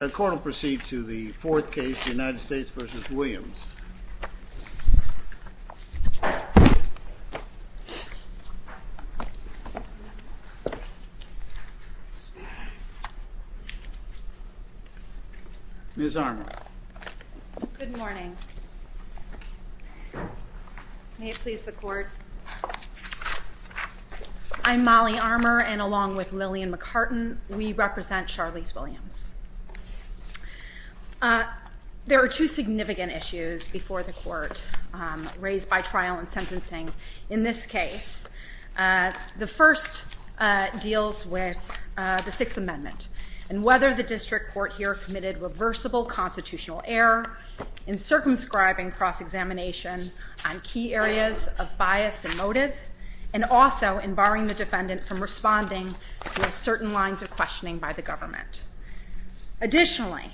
The court will proceed to the fourth case, United States v. Williams. Ms. Armour. Good morning. May it please the court. I'm Molly Armour, and along with Lillian McCartan, we represent Charlise Williams. There are two significant issues before the court raised by trial and sentencing in this case. The first deals with the Sixth Amendment and whether the district court here committed reversible constitutional error in circumscribing cross-examination on key areas of bias and motive, and also in barring the defendant from responding to certain lines of questioning by the government. Additionally,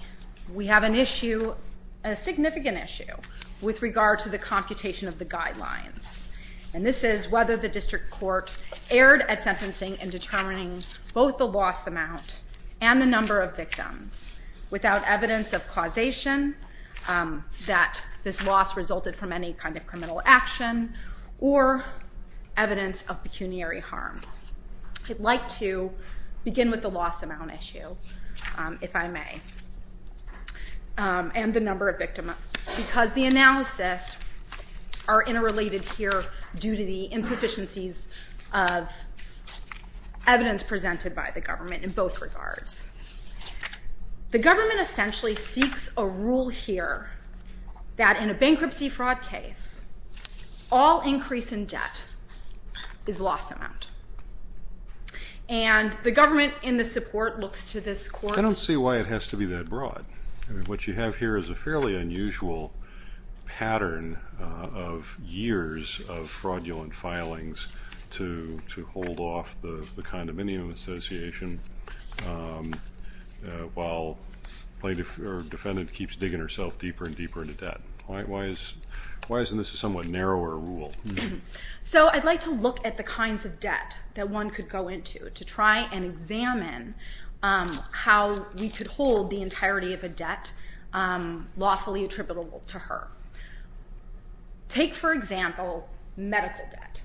we have an issue, a significant issue, with regard to the computation of the guidelines, and this is whether the district court erred at sentencing in determining both the loss amount and the number of victims without evidence of causation that this loss resulted from any kind of criminal action or evidence of pecuniary harm. I'd like to begin with the loss amount issue, if I may, and the number of victims, because the analysis are interrelated here due to the insufficiencies of evidence presented by the government in both regards. The government essentially seeks a rule here that in a bankruptcy fraud case, all increase in debt is loss amount, and the government in the support looks to this court... I don't see why it has to be that broad. What you have here is a fairly unusual pattern of years of fraudulent filings to hold off the condominium association while the defendant keeps digging herself deeper and deeper into debt. Why isn't this a somewhat narrower rule? So I'd like to look at the kinds of debt that one could go into to try and examine how we could hold the entirety of a debt lawfully attributable to her. Take, for example, medical debt.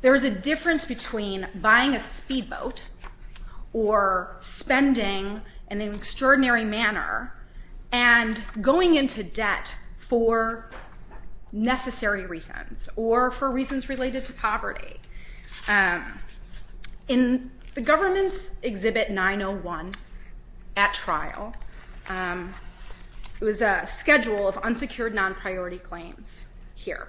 There is a difference between buying a speedboat or spending in an extraordinary manner and going into debt for necessary reasons or for reasons related to poverty. In the government's Exhibit 901 at trial, it was a schedule of unsecured non-priority claims here.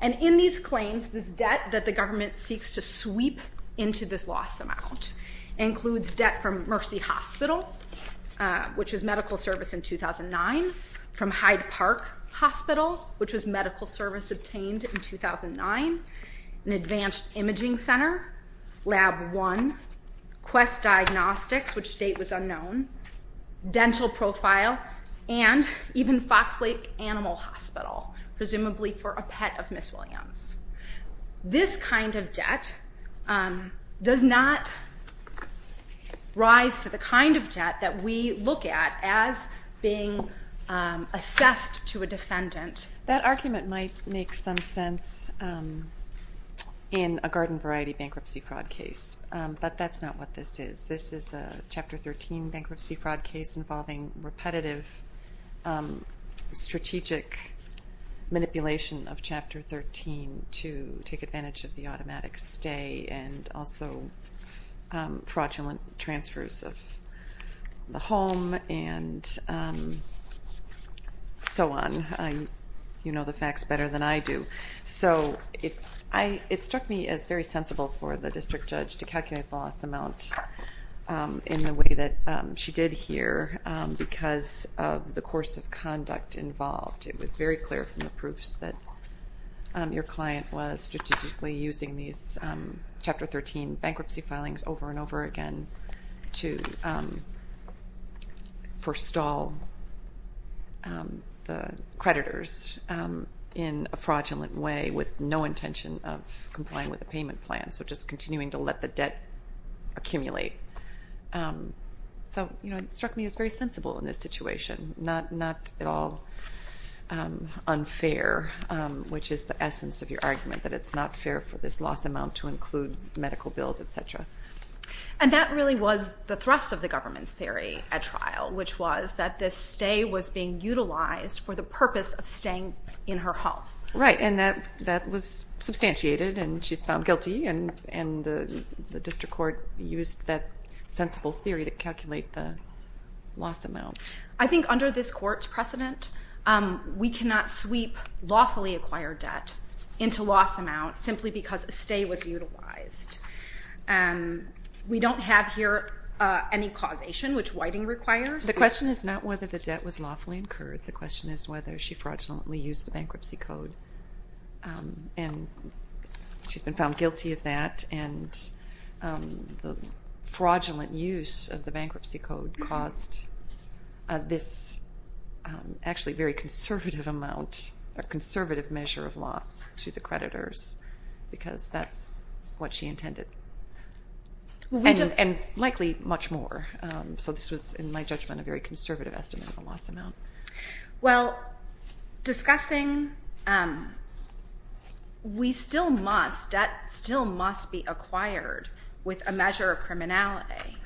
And in these claims, this debt that the government seeks to sweep into this loss amount includes debt from Mercy Hospital, which was medical service in 2009, from Hyde Park Hospital, which was medical service obtained in 2009, an advanced imaging center, Lab 1, Quest Diagnostics, which date was unknown, dental profile, and even Fox Lake Animal Hospital, presumably for a pet of Ms. Williams. This kind of debt does not rise to the kind of debt that we look at as being assessed to a defendant. That argument might make some sense in a garden variety bankruptcy fraud case, but that's not what this is. This is a Chapter 13 bankruptcy fraud case involving repetitive strategic manipulation of Chapter 13 to take advantage of the automatic stay and also fraudulent transfers of the home and so on. You know the facts better than I do. So it struck me as very sensible for the district judge to calculate loss amount in the way that she did here because of the course of conduct involved. It was very clear from the proofs that your client was strategically using these Chapter 13 bankruptcy filings over and over again to forestall the creditors in a fraudulent way with no intention of complying with the payment plan, so just continuing to let the debt accumulate. So it struck me as very sensible in this situation, not at all unfair, which is the essence of your argument, that it's not fair for this loss amount to include medical bills, etc. And that really was the thrust of the government's theory at trial, which was that this stay was being utilized for the purpose of staying in her home. Right, and that was substantiated, and she's found guilty, and the district court used that sensible theory to calculate the loss amount. I think under this court's precedent, we cannot sweep lawfully acquired debt into loss amount simply because a stay was utilized. We don't have here any causation, which Whiting requires. The question is not whether the debt was lawfully incurred. The question is whether she fraudulently used the bankruptcy code, and she's been found guilty of that, and the fraudulent use of the bankruptcy code caused this actually very conservative measure of loss to the creditors because that's what she intended, and likely much more. So this was, in my judgment, a very conservative estimate of the loss amount. Well, discussing we still must, debt still must be acquired with a measure of criminality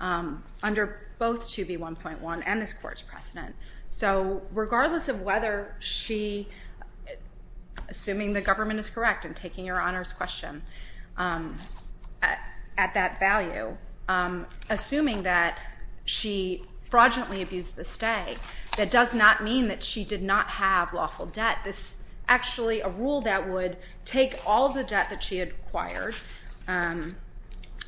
under both 2B1.1 and this court's precedent. So regardless of whether she, assuming the government is correct in taking your Honor's question at that value, assuming that she fraudulently abused the stay, that does not mean that she did not have lawful debt. This is actually a rule that would take all the debt that she had acquired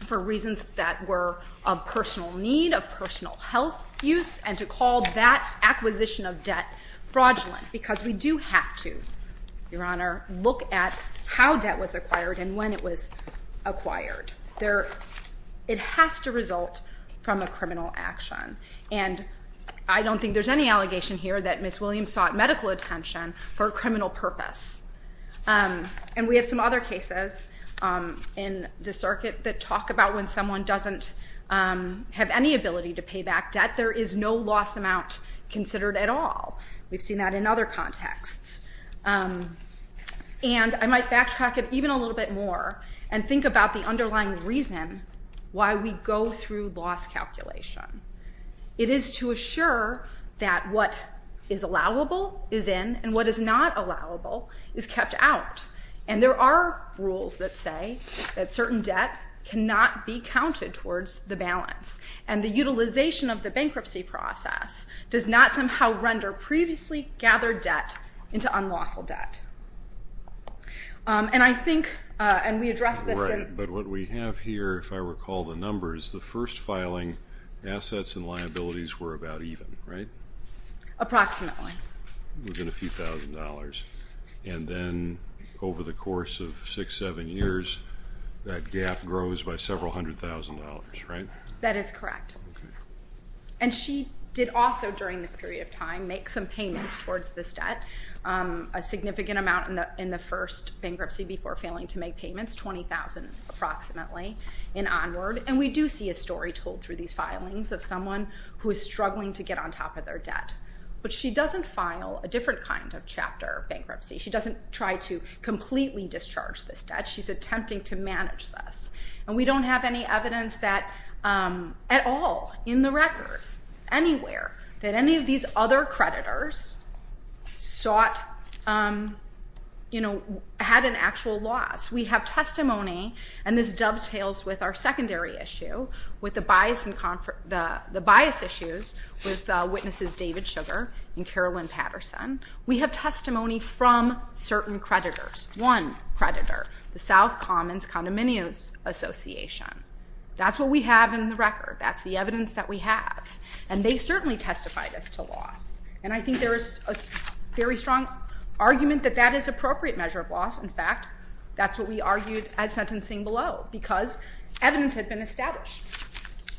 for reasons that were of personal need, of personal health use, and to call that acquisition of debt fraudulent because we do have to, Your Honor, look at how debt was acquired and when it was acquired. It has to result from a criminal action, and I don't think there's any allegation here that Ms. Williams sought medical attention for a criminal purpose, and we have some other cases in the circuit that talk about when someone doesn't have any ability to pay back debt. There is no loss amount considered at all. We've seen that in other contexts, and I might backtrack it even a little bit more and think about the underlying reason why we go through loss calculation. It is to assure that what is allowable is in and what is not allowable is kept out, and there are rules that say that certain debt cannot be counted towards the balance, and the utilization of the bankruptcy process does not somehow render previously gathered debt into unlawful debt. And I think, and we addressed this. Right, but what we have here, if I recall the numbers, the first filing assets and liabilities were about even, right? Approximately. Within a few thousand dollars, and then over the course of six, seven years, that gap grows by several hundred thousand dollars, right? That is correct, and she did also, during this period of time, make some payments towards this debt, a significant amount in the first bankruptcy before failing to make payments, $20,000 approximately and onward, and we do see a story told through these filings of someone who is struggling to get on top of their debt, but she doesn't file a different kind of chapter bankruptcy. She doesn't try to completely discharge this debt. She's attempting to manage this, and we don't have any evidence that at all, in the record, anywhere, that any of these other creditors sought, you know, had an actual loss. We have testimony, and this dovetails with our secondary issue, with the bias issues with Witnesses David Sugar and Carolyn Patterson. We have testimony from certain creditors. One creditor, the South Commons Condominiums Association. That's what we have in the record. That's the evidence that we have, and they certainly testified as to loss, and I think there is a very strong argument that that is appropriate measure of loss. In fact, that's what we argued at sentencing below because evidence had been established.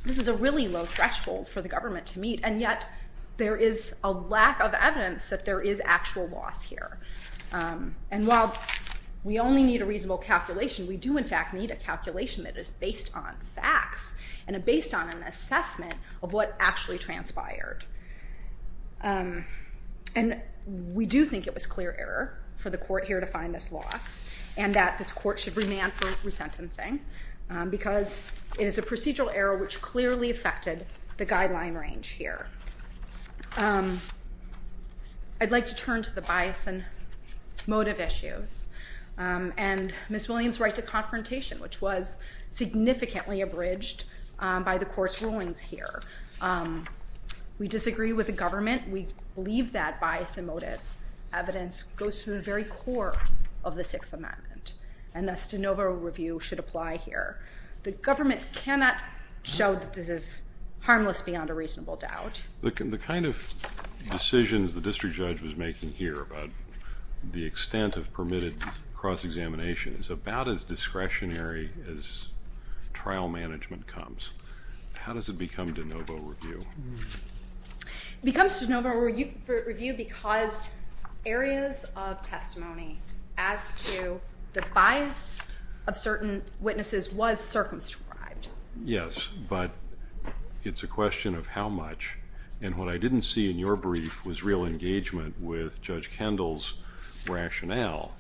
This is a really low threshold for the government to meet, and yet there is a lack of evidence that there is actual loss here, and while we only need a reasonable calculation, we do in fact need a calculation that is based on facts and based on an assessment of what actually transpired, and we do think it was clear error for the court here to find this loss and that this court should remand for resentencing because it is a procedural error which clearly affected the guideline range here. I'd like to turn to the bias and motive issues and Ms. Williams' right to confrontation, which was significantly abridged by the court's rulings here. We disagree with the government. We believe that bias and motive evidence goes to the very core of the Sixth Amendment, and thus de novo review should apply here. The government cannot show that this is harmless beyond a reasonable doubt. The kind of decisions the district judge was making here about the extent of permitted cross-examination is about as discretionary as trial management comes. How does it become de novo review? It becomes de novo review because areas of testimony as to the bias of certain witnesses was circumscribed. Yes, but it's a question of how much, and what I didn't see in your brief was real engagement with Judge Kendall's rationale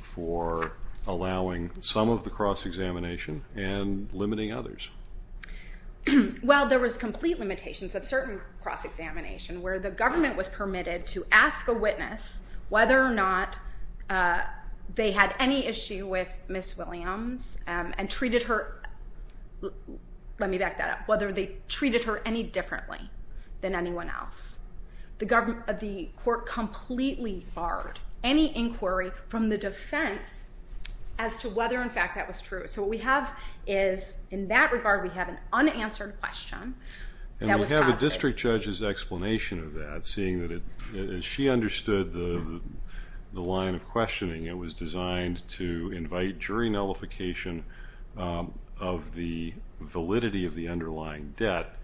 for allowing some of the cross-examination and limiting others. Well, there was complete limitations of certain cross-examination where the government was permitted to ask a witness whether or not they had any issue with Ms. Williams and treated her, let me back that up, whether they treated her any differently than anyone else. The court completely barred any inquiry from the defense as to whether in fact that was true. So what we have is, in that regard, we have an unanswered question. And we have a district judge's explanation of that, seeing that as she understood the line of questioning, it was designed to invite jury nullification of the validity of the underlying debt,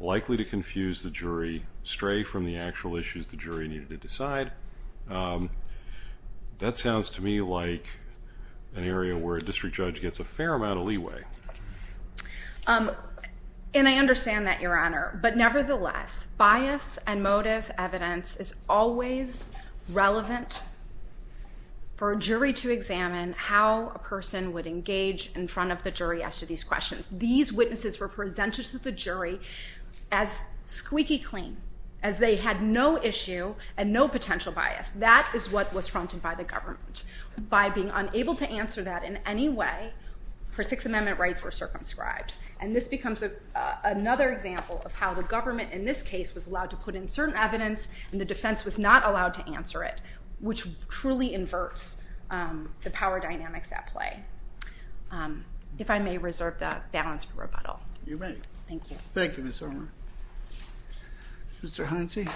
likely to confuse the jury, stray from the actual issues the jury needed to decide. That sounds to me like an area where a district judge gets a fair amount of leeway. And I understand that, Your Honor, but nevertheless, bias and motive evidence is always relevant for a jury to examine how a person would engage in front of the jury as to these questions. These witnesses were presented to the jury as squeaky clean, as they had no issue and no potential bias. That is what was fronted by the government. By being unable to answer that in any way, her Sixth Amendment rights were circumscribed. And this becomes another example of how the government, in this case, was allowed to put in certain evidence and the defense was not allowed to answer it, which truly inverts the power dynamics at play. If I may reserve that balance for rebuttal. You may. Thank you. Thank you, Ms. Zellmer. Mr. Heinze?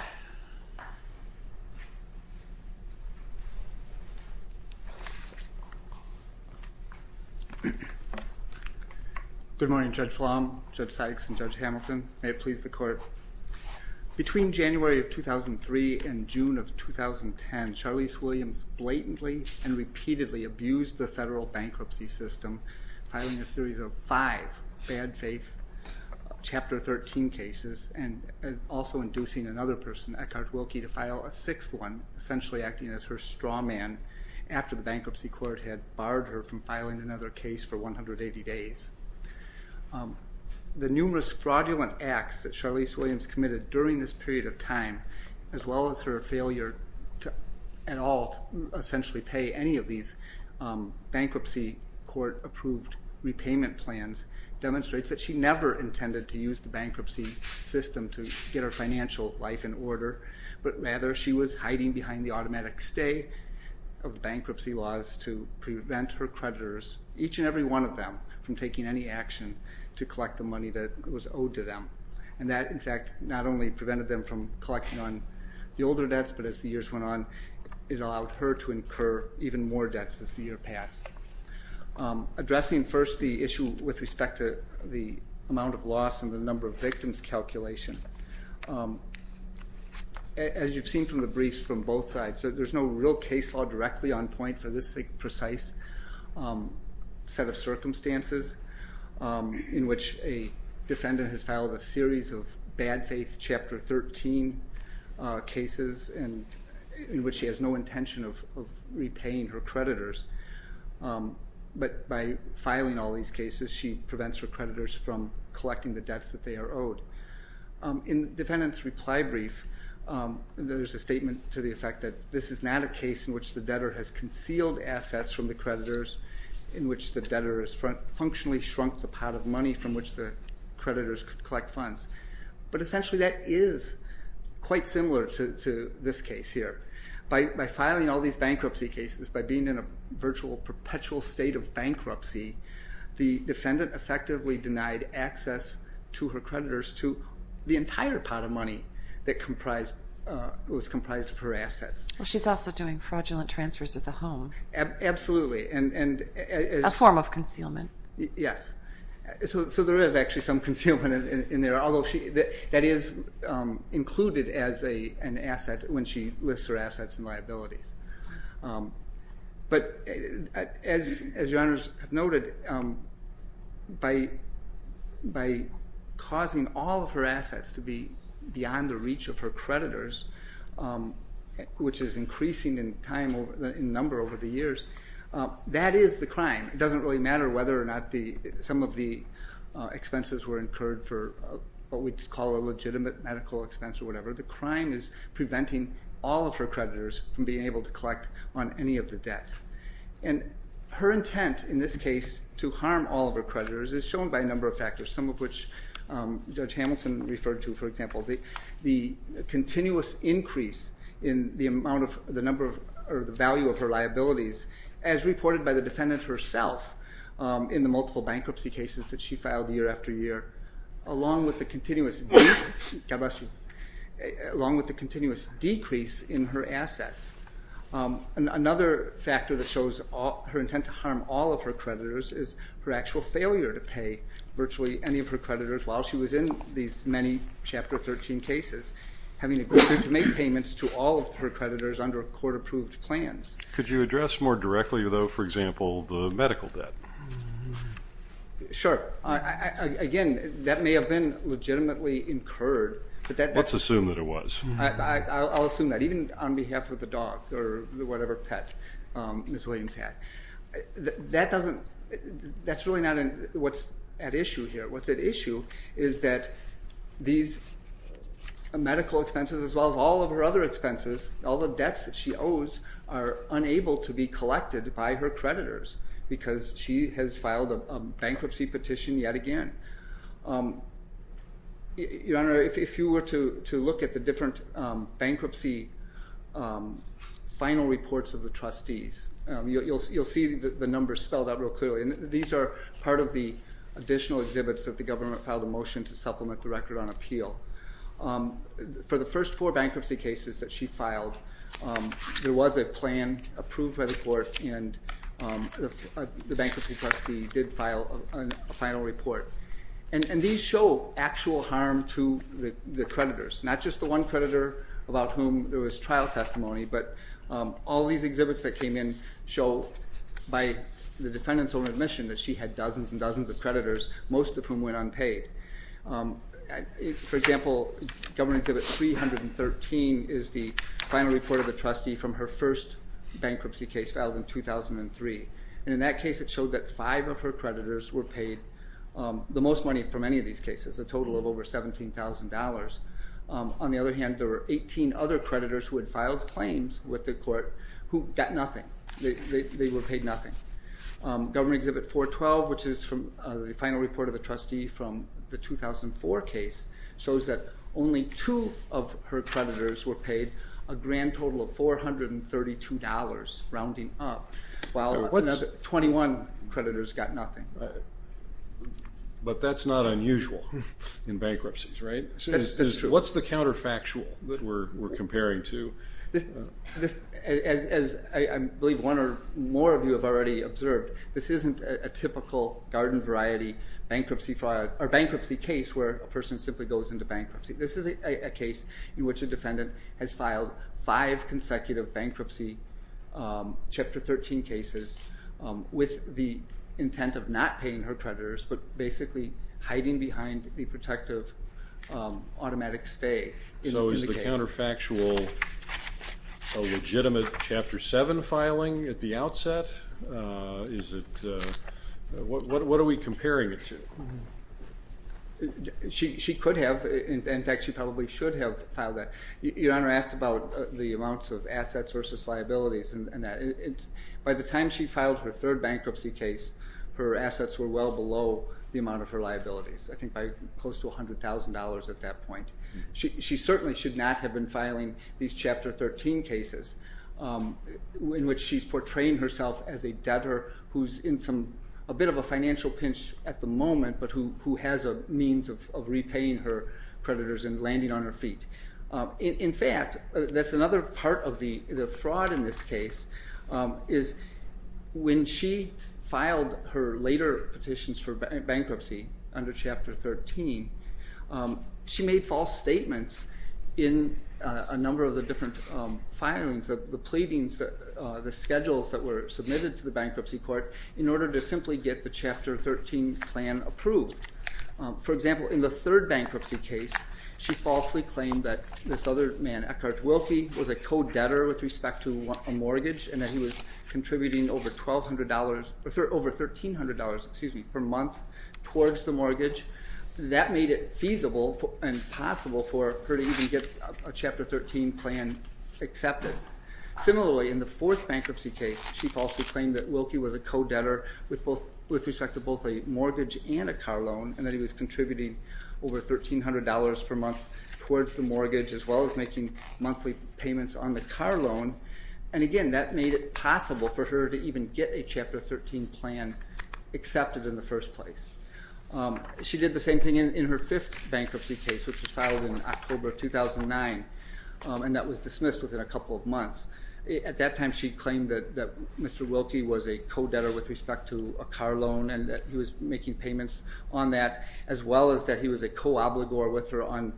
Good morning, Judge Flom, Judge Sykes, and Judge Hamilton. May it please the Court. Between January of 2003 and June of 2010, Charlize Williams blatantly and repeatedly abused the federal bankruptcy system, filing a series of five bad faith Chapter 13 cases and also inducing another person, Eckhard Wilkie, to file a sixth one, essentially acting as her straw man after the bankruptcy court had barred her from filing another case for 180 days. The numerous fraudulent acts that Charlize Williams committed during this period of time, as well as her failure at all to essentially pay any of these bankruptcy court approved repayment plans, demonstrates that she never intended to use the bankruptcy system to get her financial life in order, but rather she was hiding behind the automatic stay of bankruptcy laws to prevent her creditors, each and every one of them, from taking any action to collect the money that was owed to them. And that, in fact, not only prevented them from collecting on the older debts, but as the years went on it allowed her to incur even more debts as the year passed. Addressing first the issue with respect to the amount of loss and the number of victims calculation, as you've seen from the briefs from both sides, there's no real case law directly on point for this precise set of circumstances in which a defendant has filed a series of bad faith Chapter 13 cases in which she has no intention of repaying her creditors, but by filing all these cases she prevents her creditors from collecting the debts that they are owed. In the defendant's reply brief, there's a statement to the effect that this is not a case in which the debtor has concealed assets from the creditors, in which the debtor has functionally shrunk the pot of money from which the creditors could collect funds. But essentially that is quite similar to this case here. By filing all these bankruptcy cases, by being in a virtual perpetual state of bankruptcy, the defendant effectively denied access to her creditors to the entire pot of money that was comprised of her assets. Well, she's also doing fraudulent transfers of the home. Absolutely. A form of concealment. Yes. So there is actually some concealment in there, although that is included as an asset when she lists her assets and liabilities. But as your honors have noted, by causing all of her assets to be beyond the reach of her creditors, which is increasing in number over the years, that is the crime. And it doesn't really matter whether or not some of the expenses were incurred for what we'd call a legitimate medical expense or whatever. The crime is preventing all of her creditors from being able to collect on any of the debt. And her intent in this case to harm all of her creditors is shown by a number of factors, some of which Judge Hamilton referred to, for example. The continuous increase in the value of her liabilities, as reported by the defendant herself in the multiple bankruptcy cases that she filed year after year, along with the continuous decrease in her assets. Another factor that shows her intent to harm all of her creditors is her actual failure to pay virtually any of her creditors while she was in these many Chapter 13 cases, having to make payments to all of her creditors under court-approved plans. Could you address more directly, though, for example, the medical debt? Sure. Again, that may have been legitimately incurred. Let's assume that it was. I'll assume that, even on behalf of the dog or whatever pet Ms. Williams had. That's really not what's at issue here. What's at issue is that these medical expenses, as well as all of her other expenses, all the debts that she owes are unable to be collected by her creditors because she has filed a bankruptcy petition yet again. Your Honor, if you were to look at the different bankruptcy final reports of the trustees, you'll see the numbers spelled out real clearly. These are part of the additional exhibits that the government filed a motion to supplement the record on appeal. For the first four bankruptcy cases that she filed, there was a plan approved by the court, and the bankruptcy trustee did file a final report. And these show actual harm to the creditors, not just the one creditor about whom there was trial testimony, but all these exhibits that came in show by the defendant's own admission that she had dozens and dozens of creditors, most of whom went unpaid. For example, Government Exhibit 313 is the final report of the trustee from her first bankruptcy case filed in 2003. And in that case, it showed that five of her creditors were paid the most money for many of these cases, a total of over $17,000. On the other hand, there were 18 other creditors who had filed claims with the court who got nothing. They were paid nothing. Government Exhibit 412, which is the final report of the trustee from the 2004 case, shows that only two of her creditors were paid a grand total of $432, rounding up, while 21 creditors got nothing. But that's not unusual in bankruptcies, right? That's true. What's the counterfactual that we're comparing to? As I believe one or more of you have already observed, this isn't a typical garden variety bankruptcy case where a person simply goes into bankruptcy. This is a case in which a defendant has filed five consecutive bankruptcy Chapter 13 cases with the intent of not paying her creditors but basically hiding behind the protective automatic stay. So is the counterfactual a legitimate Chapter 7 filing at the outset? What are we comparing it to? She could have. In fact, she probably should have filed that. Your Honor asked about the amounts of assets versus liabilities. By the time she filed her third bankruptcy case, her assets were well below the amount of her liabilities, I think by close to $100,000 at that point. She certainly should not have been filing these Chapter 13 cases in which she's portraying herself as a debtor who's in a bit of a financial pinch at the moment but who has a means of repaying her creditors and landing on her feet. In fact, that's another part of the fraud in this case is when she filed her later petitions for bankruptcy under Chapter 13, she made false statements in a number of the different filings, the pleadings, the schedules that were submitted to the bankruptcy court in order to simply get the Chapter 13 plan approved. For example, in the third bankruptcy case, she falsely claimed that this other man, Eckhart Wilkie, was a co-debtor with respect to a mortgage and that he was contributing over $1,300 per month towards the mortgage. That made it feasible and possible for her to even get a Chapter 13 plan accepted. Similarly, in the fourth bankruptcy case, she falsely claimed that Wilkie was a co-debtor with respect to both a mortgage and a car loan and that he was contributing over $1,300 per month towards the mortgage as well as making monthly payments on the car loan. And again, that made it possible for her to even get a Chapter 13 plan accepted in the first place. She did the same thing in her fifth bankruptcy case, which was filed in October of 2009, and that was dismissed within a couple of months. At that time, she claimed that Mr. Wilkie was a co-debtor with respect to a car loan and that he was making payments on that as well as that he was a co-obligor with her on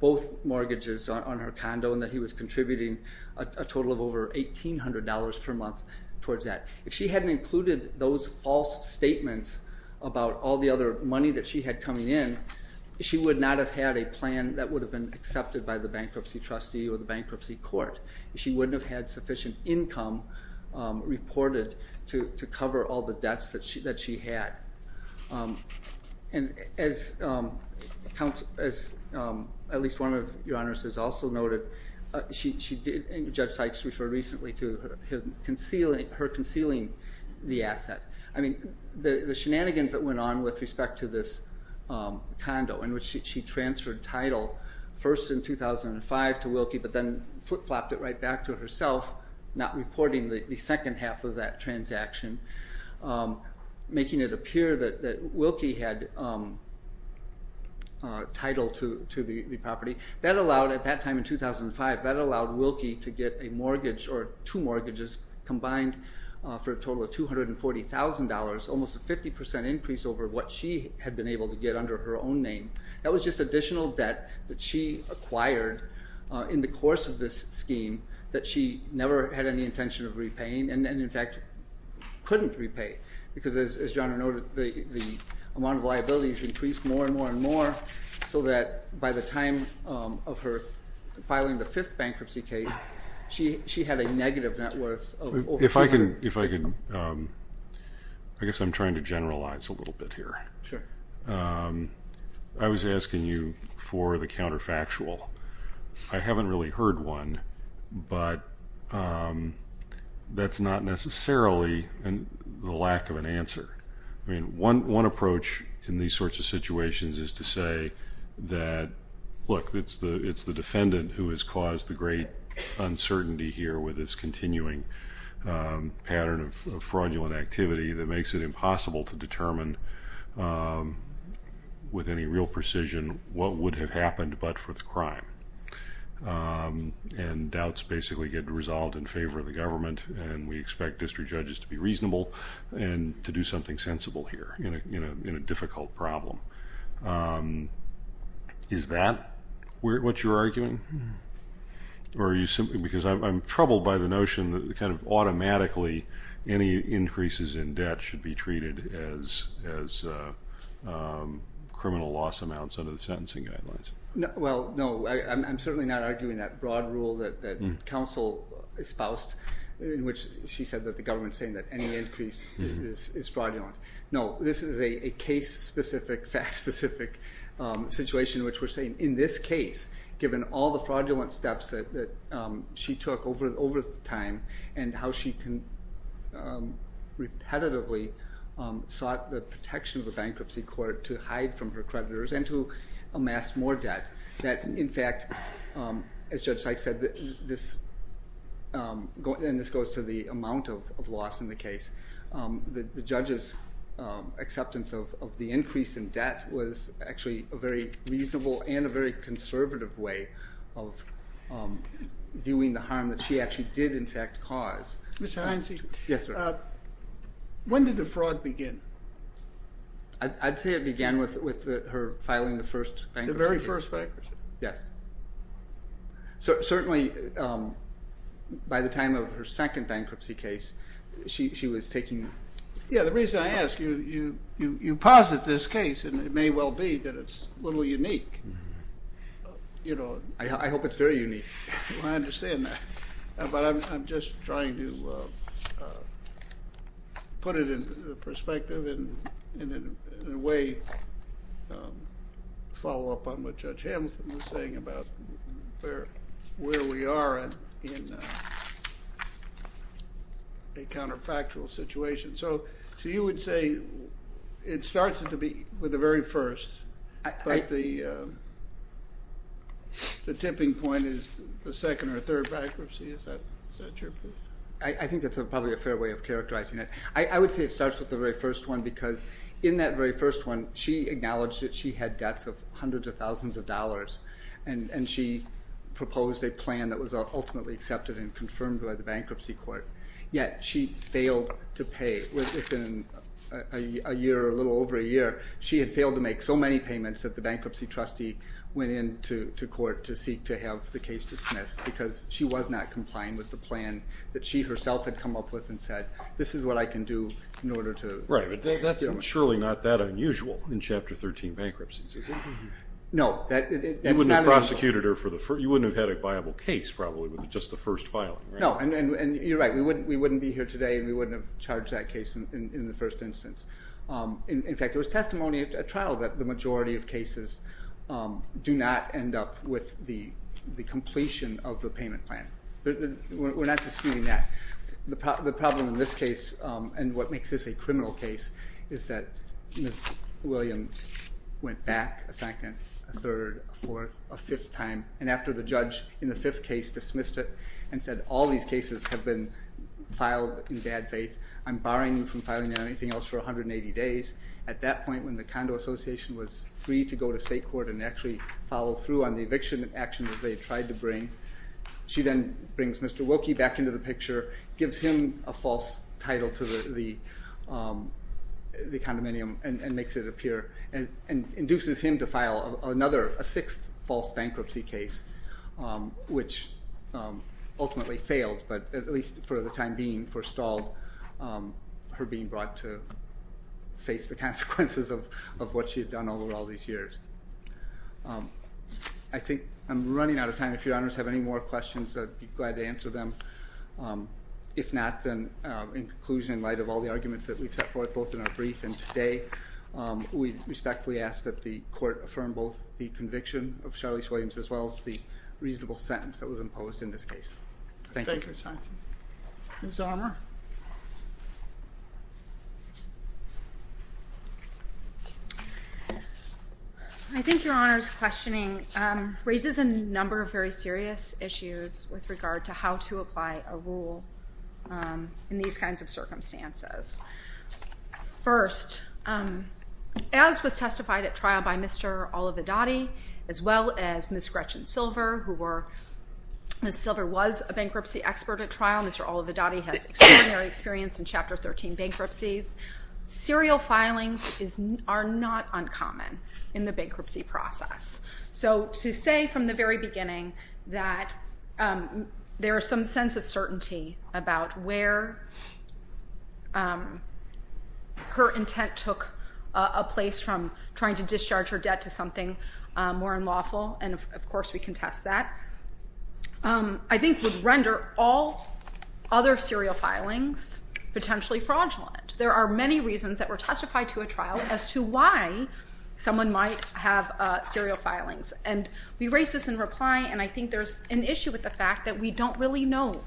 both mortgages on her condo and that he was contributing a total of over $1,800 per month towards that. If she hadn't included those false statements about all the other money that she had coming in, she would not have had a plan that would have been accepted by the bankruptcy trustee or the bankruptcy court. She wouldn't have had sufficient income reported to cover all the debts that she had. And as at least one of your honors has also noted, Judge Sykes referred recently to her concealing the asset. I mean, the shenanigans that went on with respect to this condo in which she transferred title first in 2005 to Wilkie but then flip-flopped it right back to herself, not reporting the second half of that transaction, making it appear that Wilkie had title to the property. That allowed, at that time in 2005, that allowed Wilkie to get a mortgage or two mortgages combined for a total of $240,000, almost a 50% increase over what she had been able to get under her own name. That was just additional debt that she acquired in the course of this scheme that she never had any intention of repaying and, in fact, couldn't repay because, as John noted, the amount of liabilities increased more and more so that by the time of her filing the fifth bankruptcy case, she had a negative net worth of over $400,000. If I could, I guess I'm trying to generalize a little bit here. Sure. I was asking you for the counterfactual. I haven't really heard one, but that's not necessarily the lack of an answer. One approach in these sorts of situations is to say that, look, it's the defendant who has caused the great uncertainty here with this continuing pattern of fraudulent activity that makes it impossible to determine with any real precision what would have happened but for the crime, and doubts basically get resolved in favor of the government and we expect district judges to be reasonable and to do something sensible here in a difficult problem. Is that what you're arguing? Because I'm troubled by the notion that kind of automatically any increases in debt should be treated as criminal loss amounts under the sentencing guidelines. Well, no, I'm certainly not arguing that broad rule that counsel espoused in which she said that the government is saying that any increase is fraudulent. No, this is a case-specific, fact-specific situation in which we're saying in this case, given all the fraudulent steps that she took over time and how she repetitively sought the protection of the bankruptcy court to hide from her creditors and to amass more debt, that in fact, as Judge Sykes said, and this goes to the amount of loss in the case, the judge's acceptance of the increase in debt was actually a very reasonable and a very conservative way of viewing the harm that she actually did in fact cause. Mr. Heinze. Yes, sir. When did the fraud begin? I'd say it began with her filing the first bankruptcy case. Yes. Certainly, by the time of her second bankruptcy case, she was taking... Yeah, the reason I ask, you posit this case, and it may well be that it's a little unique. I hope it's very unique. I understand that, but I'm just trying to put it into perspective and in a way follow up on what Judge Hamilton was saying about where we are in a counterfactual situation. So you would say it starts with the very first, but the tipping point is the second or third bankruptcy. Is that your position? I think that's probably a fair way of characterizing it. I would say it starts with the very first one because in that very first one, she acknowledged that she had debts of hundreds of thousands of dollars, and she proposed a plan that was ultimately accepted and confirmed by the bankruptcy court, yet she failed to pay within a year or a little over a year. She had failed to make so many payments that the bankruptcy trustee went into court to seek to have the case dismissed because she was not complying with the plan that she herself had come up with and said, this is what I can do in order to deal with it. That's surely not that unusual in Chapter 13 bankruptcies, is it? No. You wouldn't have had a viable case probably with just the first filing, right? No, and you're right. We wouldn't be here today and we wouldn't have charged that case in the first instance. In fact, there was testimony at trial that the majority of cases do not end up with the completion of the payment plan. We're not disputing that. The problem in this case, and what makes this a criminal case, is that Ms. Williams went back a second, a third, a fourth, a fifth time, and after the judge in the fifth case dismissed it and said all these cases have been filed in bad faith, I'm barring you from filing anything else for 180 days. At that point when the Condo Association was free to go to state court and actually follow through on the eviction action that they tried to bring, she then brings Mr. Wilkie back into the picture, gives him a false title to the condominium, and makes it appear, and induces him to file another, a sixth false bankruptcy case, which ultimately failed, but at least for the time being, forstalled, her being brought to face the consequences of what she had done over all these years. I think I'm running out of time. If your honors have any more questions, I'd be glad to answer them. If not, then in conclusion, in light of all the arguments that we've set forth, both in our brief and today, we respectfully ask that the court affirm both the conviction of Charlize Williams as well as the reasonable sentence that was imposed in this case. Thank you. Thank you, Mr. Hanson. Ms. Zahmer. I think your honors' questioning raises a number of very serious issues with regard to how to apply a rule in these kinds of circumstances. First, as was testified at trial by Mr. Olividotti, as well as Ms. Gretchen Silver, who were, Ms. Silver was a bankruptcy expert at trial. Mr. Olividotti has extraordinary experience in Chapter 13 bankruptcies. Serial filings are not uncommon in the bankruptcy process. So to say from the very beginning that there is some sense of certainty about where her intent took a place from trying to discharge her debt to something more unlawful, and of course we contest that, I think would render all other serial filings potentially fraudulent. There are many reasons that were testified to a trial as to why someone might have serial filings. And we raise this in reply, and I think there's an issue with the fact that we don't really know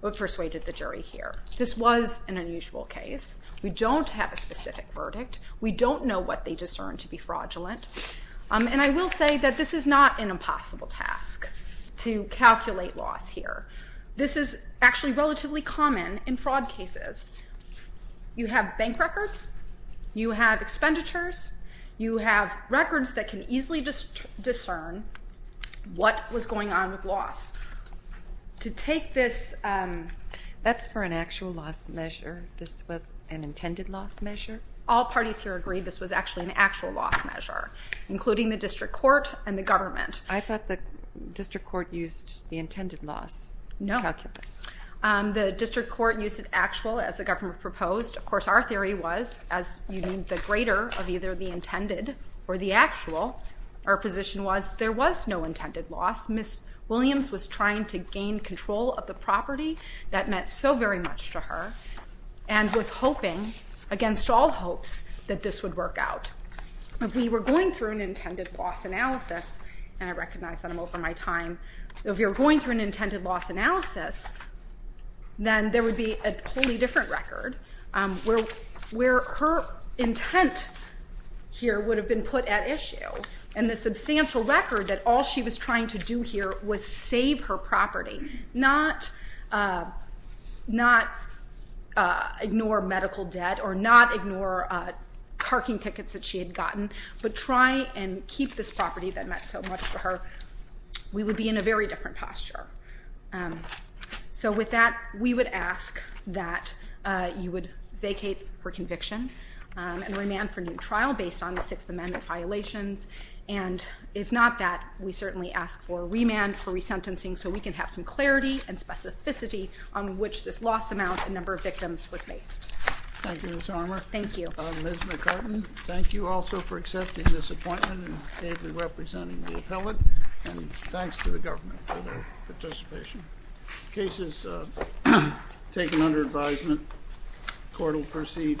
what persuaded the jury here. This was an unusual case. We don't have a specific verdict. We don't know what they discerned to be fraudulent. And I will say that this is not an impossible task to calculate loss here. This is actually relatively common in fraud cases. You have bank records. You have expenditures. You have records that can easily discern what was going on with loss. To take this... That's for an actual loss measure. This was an intended loss measure? All parties here agree this was actually an actual loss measure, including the district court and the government. I thought the district court used the intended loss calculus. No. The district court used an actual, as the government proposed. Of course, our theory was, as you need the greater of either the intended or the actual, our position was there was no intended loss. Ms. Williams was trying to gain control of the property that meant so very much to her and was hoping, against all hopes, that this would work out. If we were going through an intended loss analysis, and I recognize that I'm over my time, if we were going through an intended loss analysis, then there would be a wholly different record where her intent here would have been put at issue, and the substantial record that all she was trying to do here was save her property, not ignore medical debt or not ignore parking tickets that she had gotten, but try and keep this property that meant so much to her. We would be in a very different posture. So with that, we would ask that you would vacate her conviction and remand for new trial based on the Sixth Amendment violations, and if not that, we certainly ask for remand for resentencing so we can have some clarity and specificity on which this loss amount and number of victims was based. Thank you, Ms. Armour. Thank you. Ms. McCartin, thank you also for accepting this appointment and kindly representing the appellant, and thanks to the government for their participation. The case is taken under advisement. Court will proceed to adjournment.